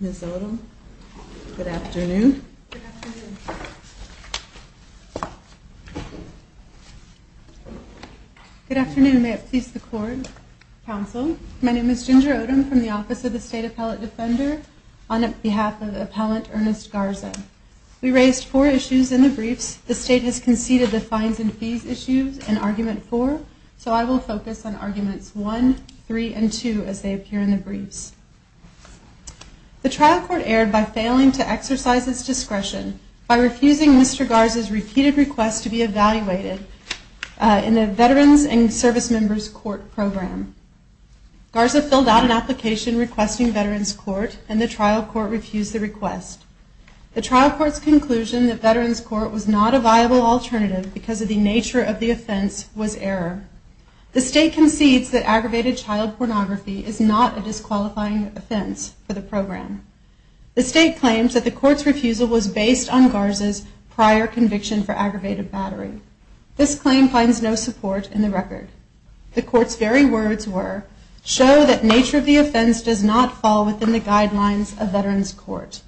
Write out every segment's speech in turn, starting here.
Ms. Odom, good afternoon. Good afternoon. May it please the court, counsel, my name is Ginger Odom from the Office of the State Appellate Defender. On behalf of Appellant Ernest Garza, we raised four issues in the briefs. The state has conceded the fines and fees issues in Argument 4, so I will focus on Arguments 1, 3, and 2 as they appear in the briefs. The trial court erred by failing to exercise its discretion by refusing Mr. Garza's repeated requests to be evaluated in the Veterans and Service Members Court program. Garza filled out an application requesting Veterans Court and the trial court refused the request. The trial court's conclusion that Veterans Court was not a viable alternative because of the nature of the offense was error. The state concedes that aggravated child pornography is not a disqualifying offense for the program. The state claims that the court's refusal was based on Garza's prior conviction for aggravated battery. This claim finds no support in the record. The court's very words were, show that nature of the offense does not fall within the guidelines of Veterans Court.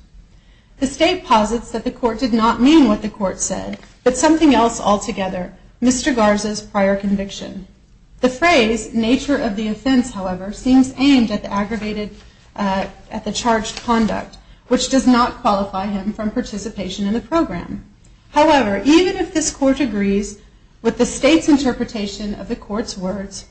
The state posits that the court did not mean what the court said, but something else altogether, Mr. Garza's prior conviction. The phrase, nature of the offense, however, seems aimed at the aggravated, at the charged conduct, which does not qualify him from participation in the program. However, even if this court agrees with the state's interpretation of the court's words,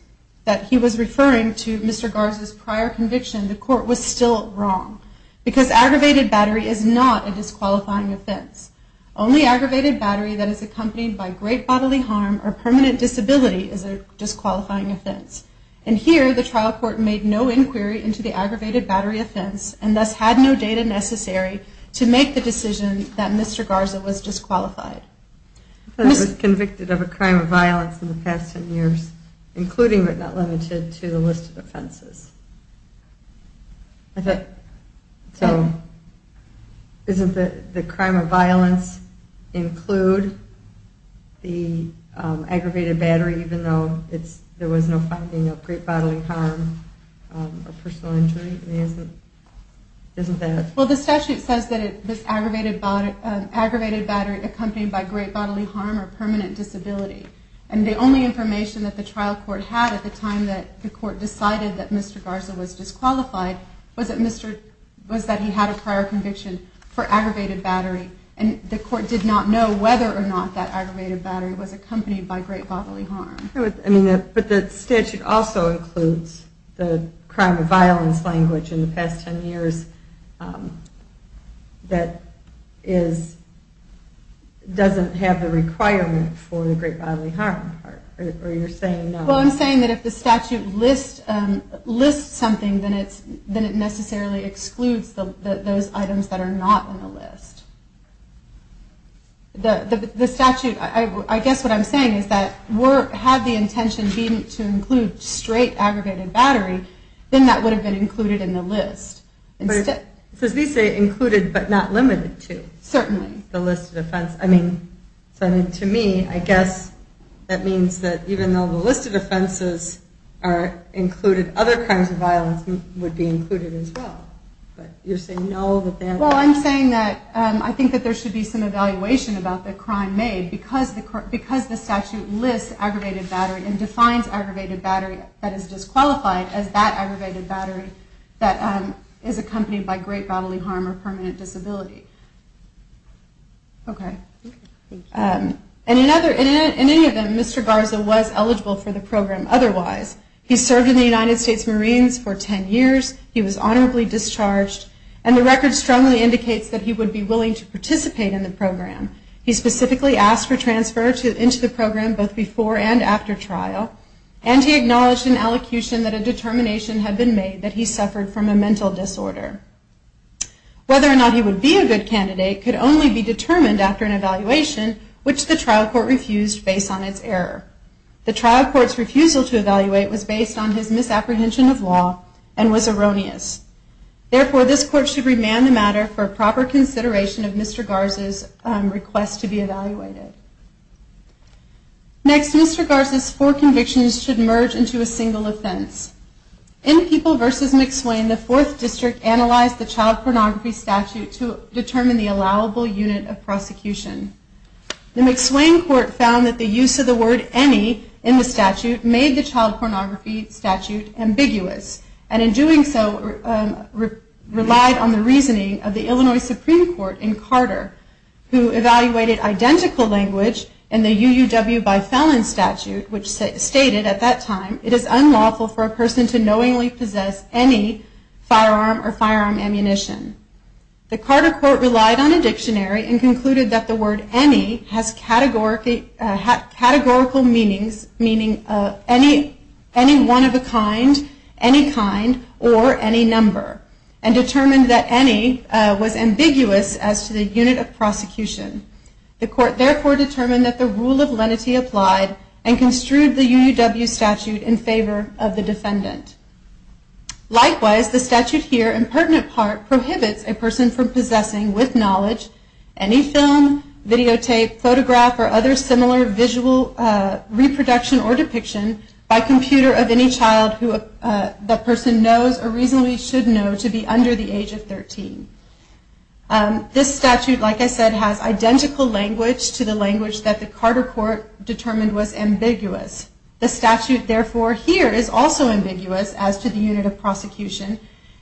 that he was referring to Mr. Garza's prior conviction, the court was still wrong. Because aggravated battery is not a disqualifying offense. Only aggravated battery that is accompanied by great bodily harm or permanent disability is a disqualifying offense. And here, the trial court made no inquiry into the aggravated battery offense and thus had no data necessary to make the decision that Mr. Garza was disqualified. He was convicted of a crime of violence in the past ten years, including but not So, isn't the crime of violence include the aggravated battery, even though there was no finding of great bodily harm or personal injury? Isn't that... Well, the statute says that it was aggravated battery accompanied by great bodily harm or permanent disability. And the only information that the trial court had at the time that the court found that Mr. Garza was disqualified was that he had a prior conviction for aggravated battery. And the court did not know whether or not that aggravated battery was accompanied by great bodily harm. But the statute also includes the crime of violence language in the past ten years that doesn't have the requirement for the great bodily harm part. Or you're saying no? Well, I'm saying that if the statute lists something, then it necessarily excludes those items that are not on the list. The statute, I guess what I'm saying is that, had the intention been to include straight aggravated battery, then that would have been included in the list. So, they say included, but not limited to? Certainly. The list of offenses. I mean, to me, I guess that means that even though the list of offenses are included, other kinds of violence would be included as well. But you're saying no? Well, I'm saying that I think that there should be some evaluation about the crime made, because the statute lists aggravated battery and defines aggravated battery that is disqualified as that aggravated battery that is accompanied by great bodily harm or permanent disability. In any event, Mr. Garza was eligible for the program otherwise. He served in the United States Marines for ten years, he was honorably discharged, and the record strongly indicates that he would be willing to participate in the program. He specifically asked for transfer into the program both before and after trial, and he acknowledged in allocution that a determination had been made that he suffered from a mental disorder. Whether or not he would be a good candidate could only be determined after an evaluation, which the trial court refused based on its error. The trial court's refusal to evaluate was based on his misapprehension of law and was erroneous. Therefore, this court should remand the matter for proper consideration of Mr. Garza's request to be evaluated. Next, Mr. Garza's four convictions should merge into a single offense. In People v. McSwain, the 4th District analyzed the child pornography statute to determine the allowable unit of prosecution. The McSwain court found that the use of the word any in the statute made the child pornography statute ambiguous, and in doing so relied on the reasoning of the Illinois Supreme Court in Carter, who evaluated identical language in the UUW by Fallon statute, which stated, at that time, it is unlawful for a person to knowingly possess any firearm or firearm ammunition. The Carter court relied on a dictionary and concluded that the word any has categorical meanings, meaning any one of a kind, any kind, or any was ambiguous as to the unit of prosecution. The court therefore determined that the rule of lenity applied and construed the UUW statute in favor of the defendant. Likewise, the statute here, in pertinent part, prohibits a person from possessing, with knowledge, any film, videotape, photograph, or other similar visual reproduction or depiction by computer of any child who the person knows or reasonably should know to be under the This statute, like I said, has identical language to the language that the Carter court determined was ambiguous. The statute, therefore, here is also ambiguous as to the unit of prosecution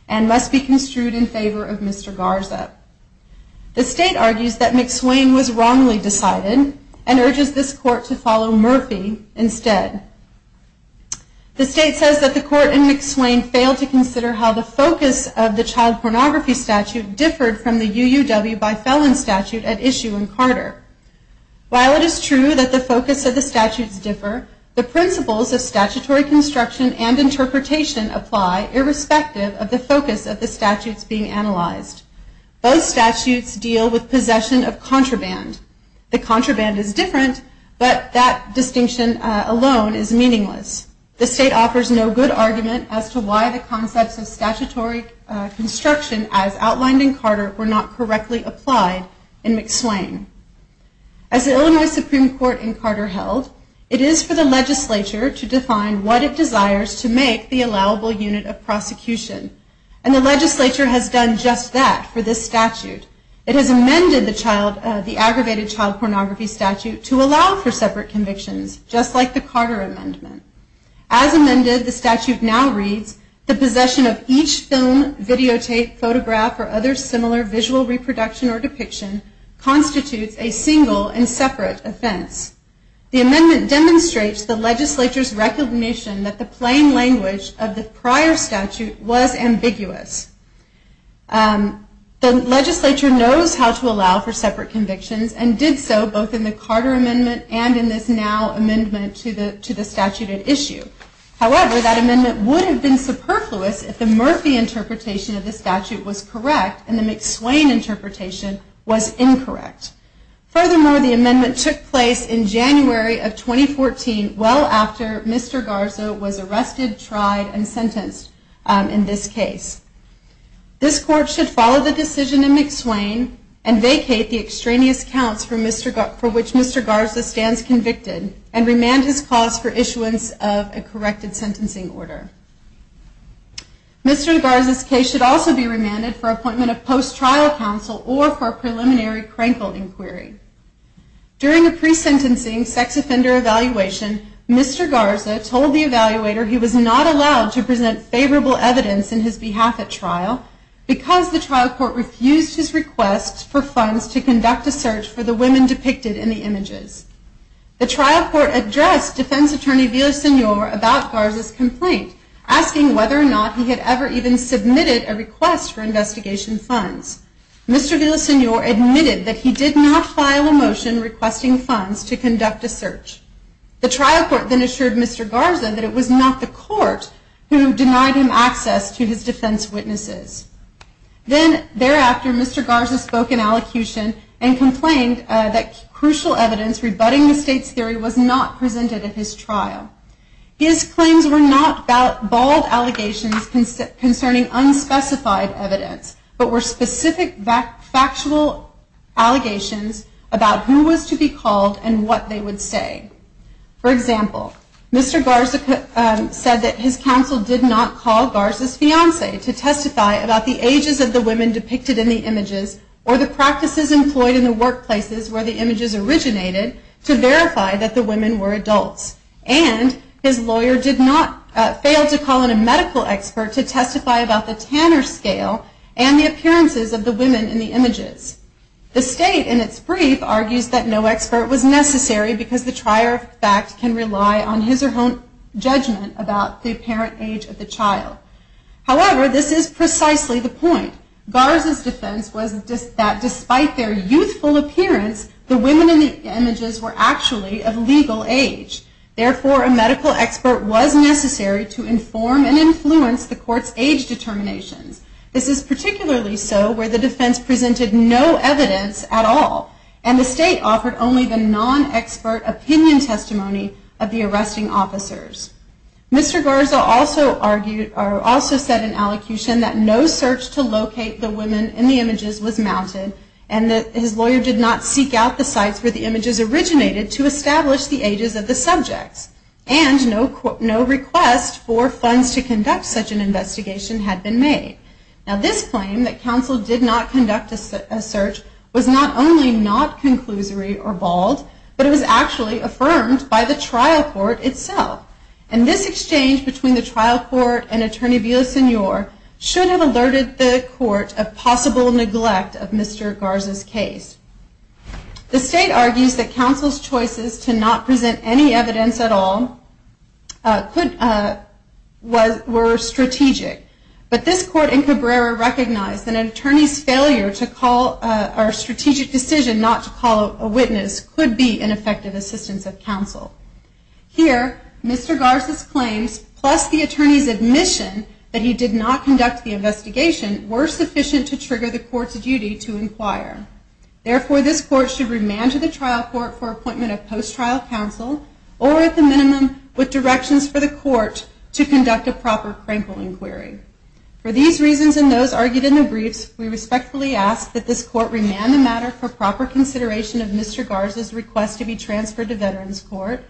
and must be construed in favor of Mr. Garza. The state argues that McSwain was wrongly decided and urges this court to follow Murphy instead. The state says that the court in McSwain failed to consider how the focus of the child pornography statute differed from the UUW by felon statute at issue in Carter. While it is true that the focus of the statutes differ, the principles of statutory construction and interpretation apply irrespective of the focus of the statutes being analyzed. Both statutes deal with possession of contraband. The contraband is different, but that distinction alone is meaningless. The state offers no good argument as to why the concepts of statutory construction as outlined in Carter were not correctly applied in McSwain. As the Illinois Supreme Court in Carter held, it is for the legislature to define what it desires to make the allowable unit of prosecution. And the legislature has done just that for this statute. It has amended the aggravated child pornography statute to allow for separate convictions. As amended, the statute now reads, the possession of each film, videotape, photograph, or other similar visual reproduction or depiction constitutes a single and separate offense. The amendment demonstrates the legislature's recognition that the plain language of the prior statute was ambiguous. The legislature knows how to allow for separate convictions and did so both in the Carter amendment and in this now amendment to the statute at issue. However, that amendment would have been superfluous if the Murphy interpretation of the statute was correct and the McSwain interpretation was incorrect. Furthermore, the amendment took place in January of 2014, well after Mr. Garza was arrested, tried, and sentenced in this case. This court should follow the decision in McSwain and vacate the extraneous counts for which Mr. Garza stands convicted and remand his cause for issuance of a corrected sentencing order. Mr. Garza's case should also be remanded for appointment of post-trial counsel or for preliminary crankle inquiry. During a pre-sentencing sex offender evaluation, Mr. Garza told the evaluator he was not allowed to present favorable evidence in his behalf at trial because the trial court refused his request for funds to conduct a search for the women depicted in the images. The trial court addressed defense attorney Villasenor about Garza's complaint, asking whether or not he had ever even submitted a request for investigation funds. Mr. Villasenor admitted that he did not file a motion requesting funds to conduct a search. The trial court then assured Mr. Garza that it was not the court who denied him access to his defense witnesses. Then thereafter, Mr. Garza spoke in allocution and complained that crucial evidence rebutting the state's theory was not presented at his trial. His claims were not bald allegations concerning unspecified evidence, but were specific factual allegations about who was to be called and what they would say. For example, his counsel did not call Garza's fiancee to testify about the ages of the women depicted in the images or the practices employed in the workplaces where the images originated to verify that the women were adults. And his lawyer did not fail to call in a medical expert to testify about the Tanner scale and the appearances of the women in the images. The state, in its brief, argues that no expert was necessary because the trier of fact can rely on his or her own judgment about the apparent age of the child. However, this is precisely the point. Garza's defense was that despite their youthful appearance, the women in the images were actually of legal age. Therefore, a medical expert was necessary to inform and influence the court's age determinations. This is particularly so where the defense presented no evidence at all, and the state offered only the non-expert opinion testimony of the arresting officers. Mr. Garza also said in allocution that no search to locate the women in the images was mounted, and that his lawyer did not seek out the sites where the images originated to establish the ages of the subjects. And no request for funds to conduct such an investigation had been made. Now, this claim that counsel did not conduct a search was not only not conclusory or bald, but it was actually affirmed by the trial court itself. And this exchange between the trial court and Attorney Villasenor should have alerted the court of possible neglect of Mr. Garza's case. The state argues that counsel's choices to not present any evidence at all were strategic, but this court in Cabrera recognized that an attorney's failure to call a strategic decision was not sufficient to trigger the court's duty to inquire. Here, Mr. Garza's claims, plus the attorney's admission that he did not conduct the investigation, were sufficient to trigger the court's duty to inquire. Therefore, this court should remand to the trial court for appointment of post-trial counsel, or at the minimum, with directions for the court to conduct a proper crankle inquiry. For these reasons and those argued in the briefs, we respectfully ask that this court remand the matter for proper consideration of Mr. Garza's request to be transferred to Veterans Court,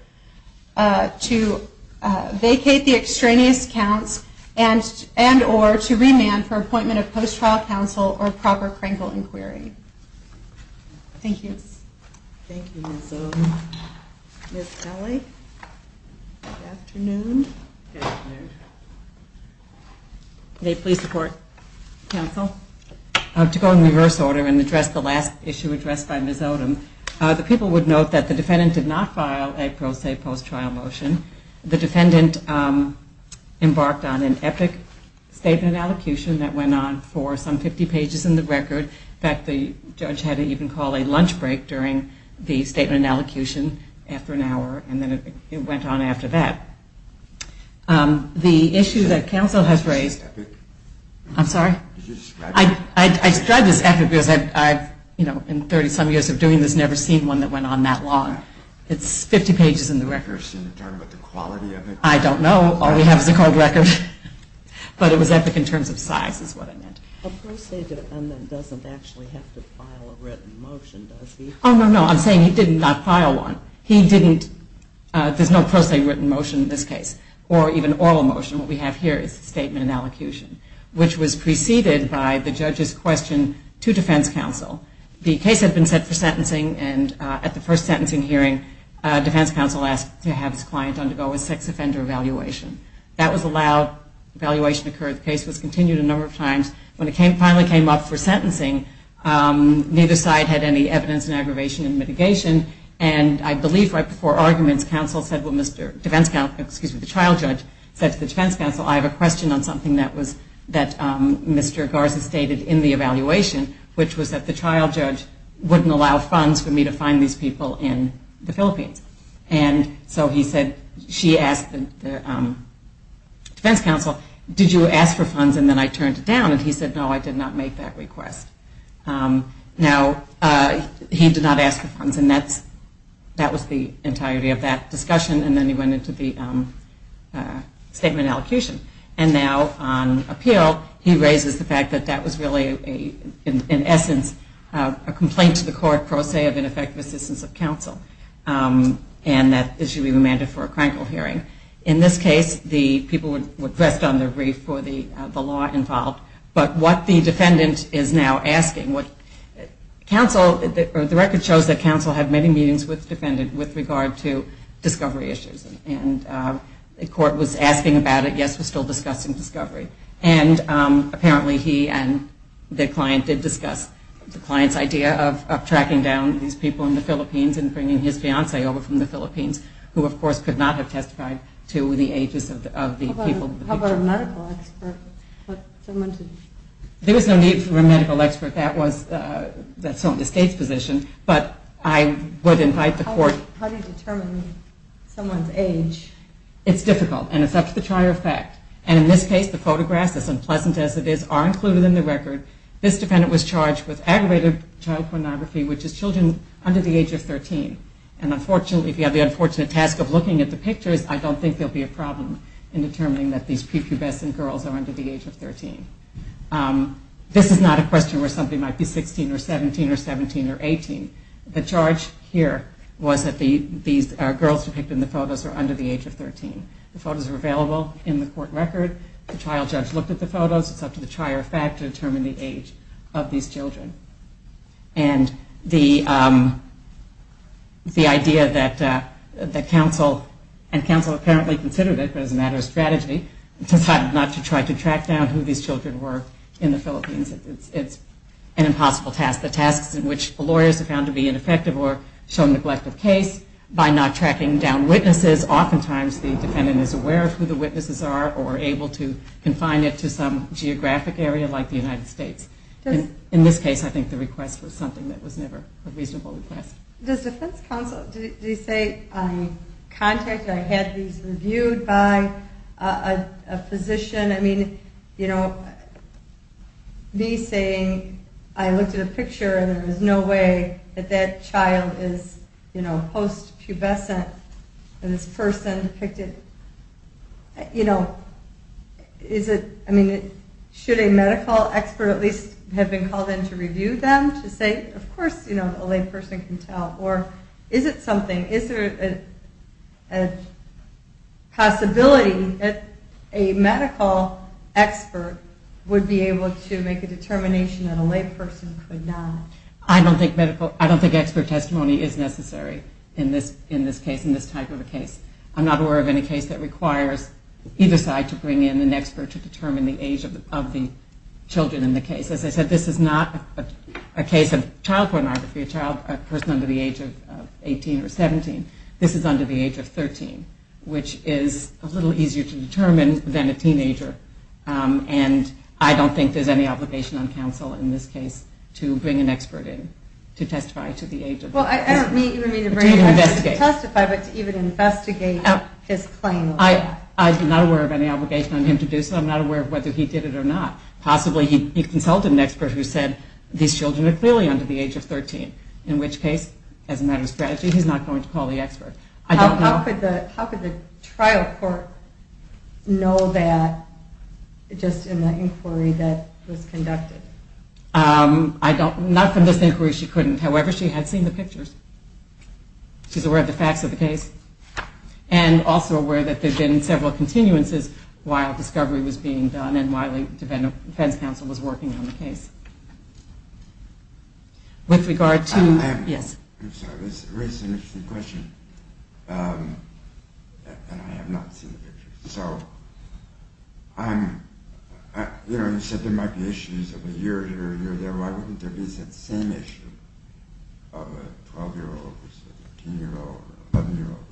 to vacate the extraneous accounts, and or to remand for appointment of post-trial counsel or proper crankle inquiry. Thank you. Thank you, Ms. Odom. Ms. Kelly, good afternoon. Good afternoon. May it please the Court. Counsel. To go in reverse order and address the last issue addressed by Ms. Odom, the people would note that the defendant did not file a pro se post-trial motion. The defendant embarked on an EPIC statement of allocution that went on for some 50 pages in the record. In fact, the judge had to even call a lunch break during the statement of allocution after an hour, and then it went on after that. The issue that counsel has raised... EPIC? I'm sorry? Did you describe it? I described this EPIC because I've, you know, in 30-some years of doing this, never seen one that went on that long. It's 50 pages in the record. You're saying you're talking about the quality of it? I don't know. All we have is a cold record. But it was EPIC in terms of size, is what I meant. A pro se defendant doesn't actually have to file a written motion, does he? Oh, no, no. I'm saying he did not file one. He didn't... There's no pro se written motion in this case, or even oral motion. What we have here is the statement of allocution, which was preceded by the judge's question to defense counsel. The case had been set for sentencing, and at the first sentencing hearing, defense counsel asked to have his client undergo a sex offender evaluation. That was allowed. Evaluation occurred. The case was continued a number of times. When it finally came up for sentencing, neither side had any evidence in aggravation and mitigation, and I believe right before arguments, counsel said, well, Mr. Defense counsel... Excuse me, the trial judge said to the defense counsel, I have a question on something that Mr. Garza stated in the evaluation, which was that the trial judge wouldn't allow funds for me to find these people in the Philippines. And so he said, she asked the defense counsel, did you ask for funds? And then I turned it down, and he said, no, I did not make that request. Now, he did not ask for funds, and that was the entirety of that discussion, and then he went into the statement of allocution. And now, on appeal, he raises the fact that that was really, in essence, a complaint to the court, pro se, of ineffective assistance of counsel, and that issue be remanded for a crankle hearing. In this case, the people were dressed on their brief for the law involved, but what the defendant is now asking... The record shows that counsel had many meetings with the defendant with regard to discovery issues, and the court was asking about it, yes, we're still discussing discovery. And apparently, he and the client did discuss the client's idea of tracking down these people in the Philippines and bringing his fiance over from the Philippines, who, of course, could not have testified to the ages of the people in the picture. How about a medical expert? There was no need for a medical expert. That's not the state's position, but I would invite the court... How do you determine someone's age? It's difficult, and it's up to the tryer of fact. And in this case, the photographs, as unpleasant as it is, are included in the record. This defendant was charged with aggravated child pornography, which is children under the age of 13. And unfortunately, if you have the unfortunate task of looking at the pictures, I don't think there will be a problem in determining that these pre-pubescent girls are under the age of 13. This is not a question where somebody might be 16 or 17 or 17 or 18. The charge here was that these girls depicted in the photos are under the age of 13. The photos are available in the court record. The trial judge looked at the photos. It's up to the trier of fact to determine the age of these children. And the idea that counsel, and counsel apparently considered it, but as a matter of strategy, decided not to try to track down who these children were in the Philippines, it's an impossible task. The tasks in which lawyers are found to be ineffective or show neglect of case by not tracking down witnesses, oftentimes the defendant is aware of who the witnesses are or able to confine it to some geographic area like the United States. In this case, I think the request was something that was never a reasonable request. Does defense counsel, did he say, I contacted, I had these reviewed by a physician? I mean, you know, me saying, I looked at a picture and there was no way that that child is, you know, post-pubescent and this person depicted, you know, is it, I mean, should a medical expert at least have been called in to review them to say, of course, you know, a lay person can tell, or is it something, is there a possibility that a medical expert would be able to make a determination that a lay person could not? I don't think medical, I don't think expert testimony is necessary in this case, in this type of a case. I'm not aware of any case that requires either side to bring in an expert to determine the age of the children in the case. As I said, this is not a case of child birth under the age of 18 or 17. This is under the age of 13, which is a little easier to determine than a teenager, and I don't think there's any obligation on counsel in this case to bring an expert in to testify to the age of 13. Well, I don't mean to bring an expert in to testify, but to even investigate his claim. I'm not aware of any obligation on him to do so. I'm not aware of whether he did it or not. Possibly he consulted an expert who said, these children are clearly under the age of 18. I'm not aware of any case, as a matter of strategy, he's not going to call the expert. How could the trial court know that, just in the inquiry that was conducted? Not from this inquiry, she couldn't. However, she had seen the pictures. She's aware of the facts of the case, and also aware that there have been several continuances while discovery was being done and while the defense counsel was working on the case. With regard to... I'm sorry, this raises an interesting question, and I have not seen the pictures. So, you know, you said there might be issues of a year here and a year there. Why wouldn't there be that same issue of a 12-year-old or a 15-year-old or an 11-year-old?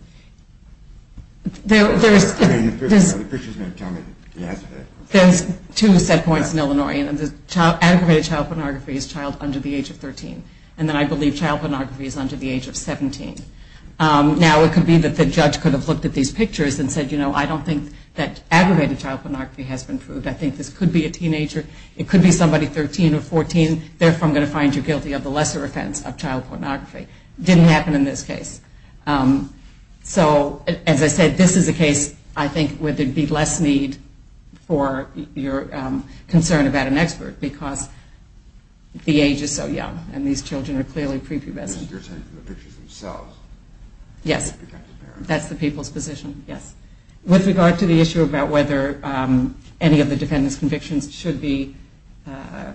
The picture's going to tell me the answer to that question. There's two set points in Illinois. Aggravated child pornography is child under the age of 13, and then I believe child pornography is under the age of 17. Now, it could be that the judge could have looked at these pictures and said, you know, I don't think that aggravated child pornography has been proved. I think this could be a teenager. It could be somebody 13 or 14. Therefore, I'm going to find you guilty of the lesser offense of child pornography. Didn't happen in this case. So, as I said, this is a case, I think, where there'd be less need for your concern about an expert because the age is so young, and these children are clearly prepubescent. You're saying from the pictures themselves? Yes. That's the people's position, yes. With regard to the issue about whether any of the defendant's convictions should be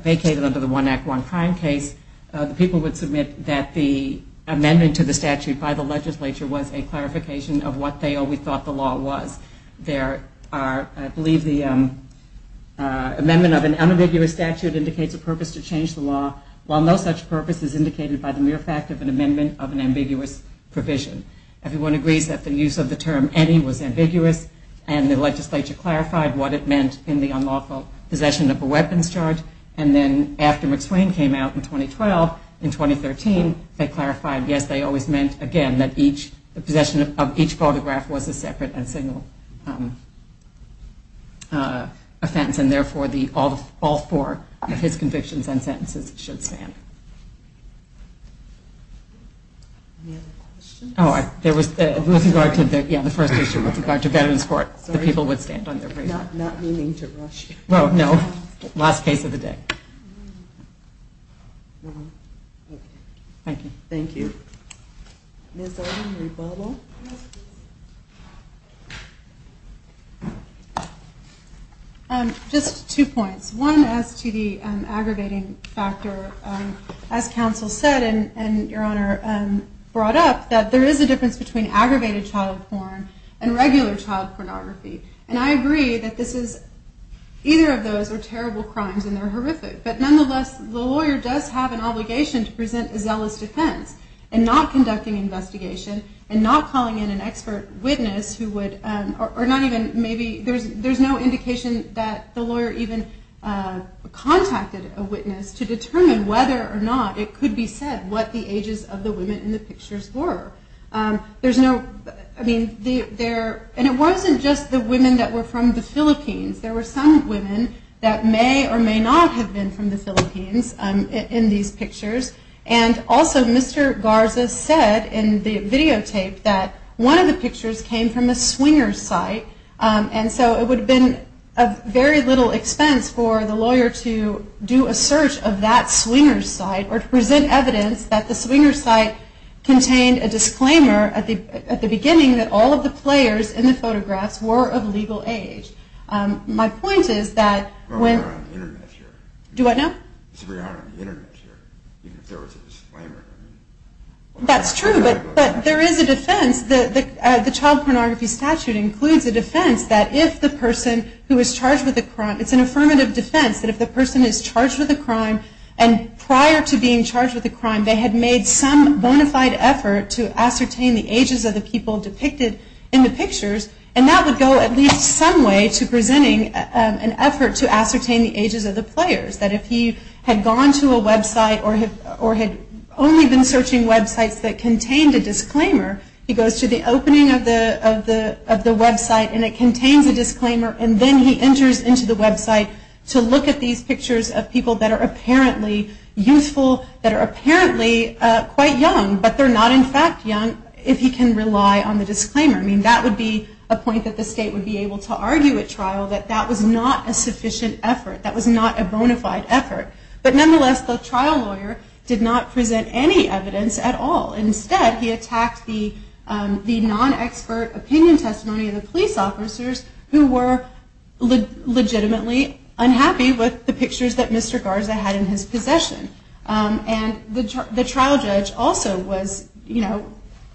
vacated under the One Act, One Crime case, the people would submit that the amendment to the statute by the legislature was a clarification of what they always thought the law was. I believe the amendment of an unambiguous statute indicates a purpose to change the law, while no such purpose is indicated by the mere fact of an amendment of an ambiguous provision. Everyone agrees that the use of the term any was ambiguous, and the legislature clarified what it meant in the unlawful possession of a weapons charge, and then after McSwain came out in 2012, in which case, again, the possession of each photograph was a separate and single offense, and therefore all four of his convictions and sentences should stand. Any other questions? Oh, there was, with regard to, yeah, the first issue with regard to Veterans Court, the people would stand on their feet. Not meaning to rush you. Well, no. Last case of the day. Thank you. Thank you. Ms. Oden, rebuttal. Just two points. One, as to the aggravating factor, as counsel said, and your honor brought up, that there is a difference between aggravated child porn and regular child pornography. And I agree that this is, either of those are terrible crimes and they're horrific, but nonetheless, the lawyer does have an obligation to present a zealous defense in not conducting an investigation and not calling in an expert witness who would, or not even maybe, there's no indication that the lawyer even contacted a witness to determine whether or not it could be said what the ages of the women in the pictures were. There's no, I mean, there, and it wasn't just the women that were from the Philippines. There were some women that may or may not have been from the Philippines in these pictures. And also, Mr. Garza said in the videotape that one of the pictures came from a swingers' site. And so it would have been of very little expense for the lawyer to do a search of that swingers' site or to present evidence that the swingers' site contained a disclaimer at the beginning that all of the players in the photographs were of legal age. My point is that when... It's very hard on the internet here, even if there was a disclaimer. That's true, but there is a defense. The child pornography statute includes a defense that if the person who is charged with a crime, it's an affirmative defense that if the person is charged with a crime and prior to being charged with a crime they had made some bona fide effort to ascertain the ages of the people depicted in the pictures, and that would go at least some way to presenting an effort to ascertain the ages of the players. That if he had gone to a website or had only been searching websites that contained a disclaimer, he goes to the opening of the website and it contains a disclaimer and then he enters into the website to look at these pictures of people that are apparently youthful, that are apparently quite young, but they're not in fact young if he can rely on the disclaimer. I mean, that would be a point that the state would be able to argue at trial, that that was not a sufficient effort, that was not a bona fide effort. But nonetheless, the trial lawyer did not present any evidence at all. Instead, he attacked the non-expert opinion testimony of the police officers who were legitimately unhappy with the pictures that Mr. Garza had in his possession. And the trial judge also was, you know,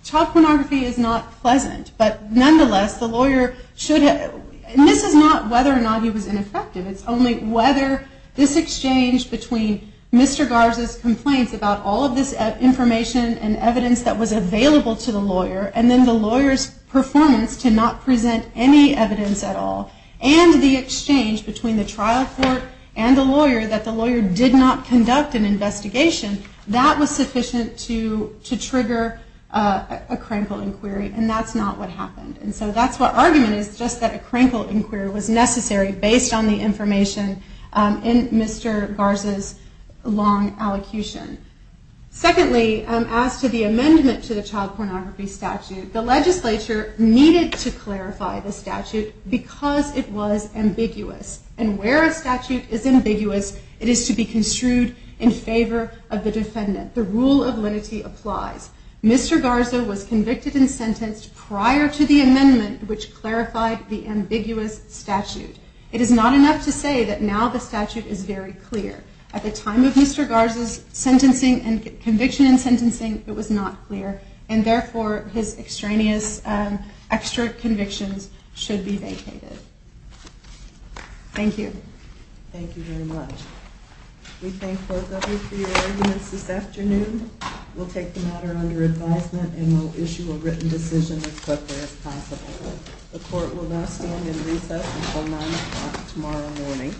child pornography is not pleasant, but nonetheless, the lawyer should have, and this is not whether or not he was ineffective, it's only whether this exchange between Mr. Garza's complaints about all of this information and evidence that was available to the lawyer, and then the lawyer's performance to not present any evidence at all, and the exchange between the trial court and the lawyer that the lawyer did not conduct an investigation, that was sufficient to trigger a crankle inquiry, and that's not what happened. And so that's what argument is, just that a crankle inquiry was necessary based on the information in Mr. Garza's long allocution. Secondly, as to the amendment to the child pornography statute, the legislature needed to clarify the statute because it was ambiguous. And where a statute is ambiguous, it is to be construed in favor of the defendant. The rule of lenity applies. Mr. Garza was convicted and sentenced prior to the amendment which clarified the ambiguous statute. It is not enough to say that now the statute is very clear. At the time of Mr. Garza's conviction and sentencing, it was not clear, and therefore his extraneous extra convictions should be vacated. Thank you. Thank you very much. We thank both of you for your arguments this afternoon. We'll take the matter under advisement and we'll issue a written decision as quickly as possible. The court will now stand in recess until 9 o'clock tomorrow morning.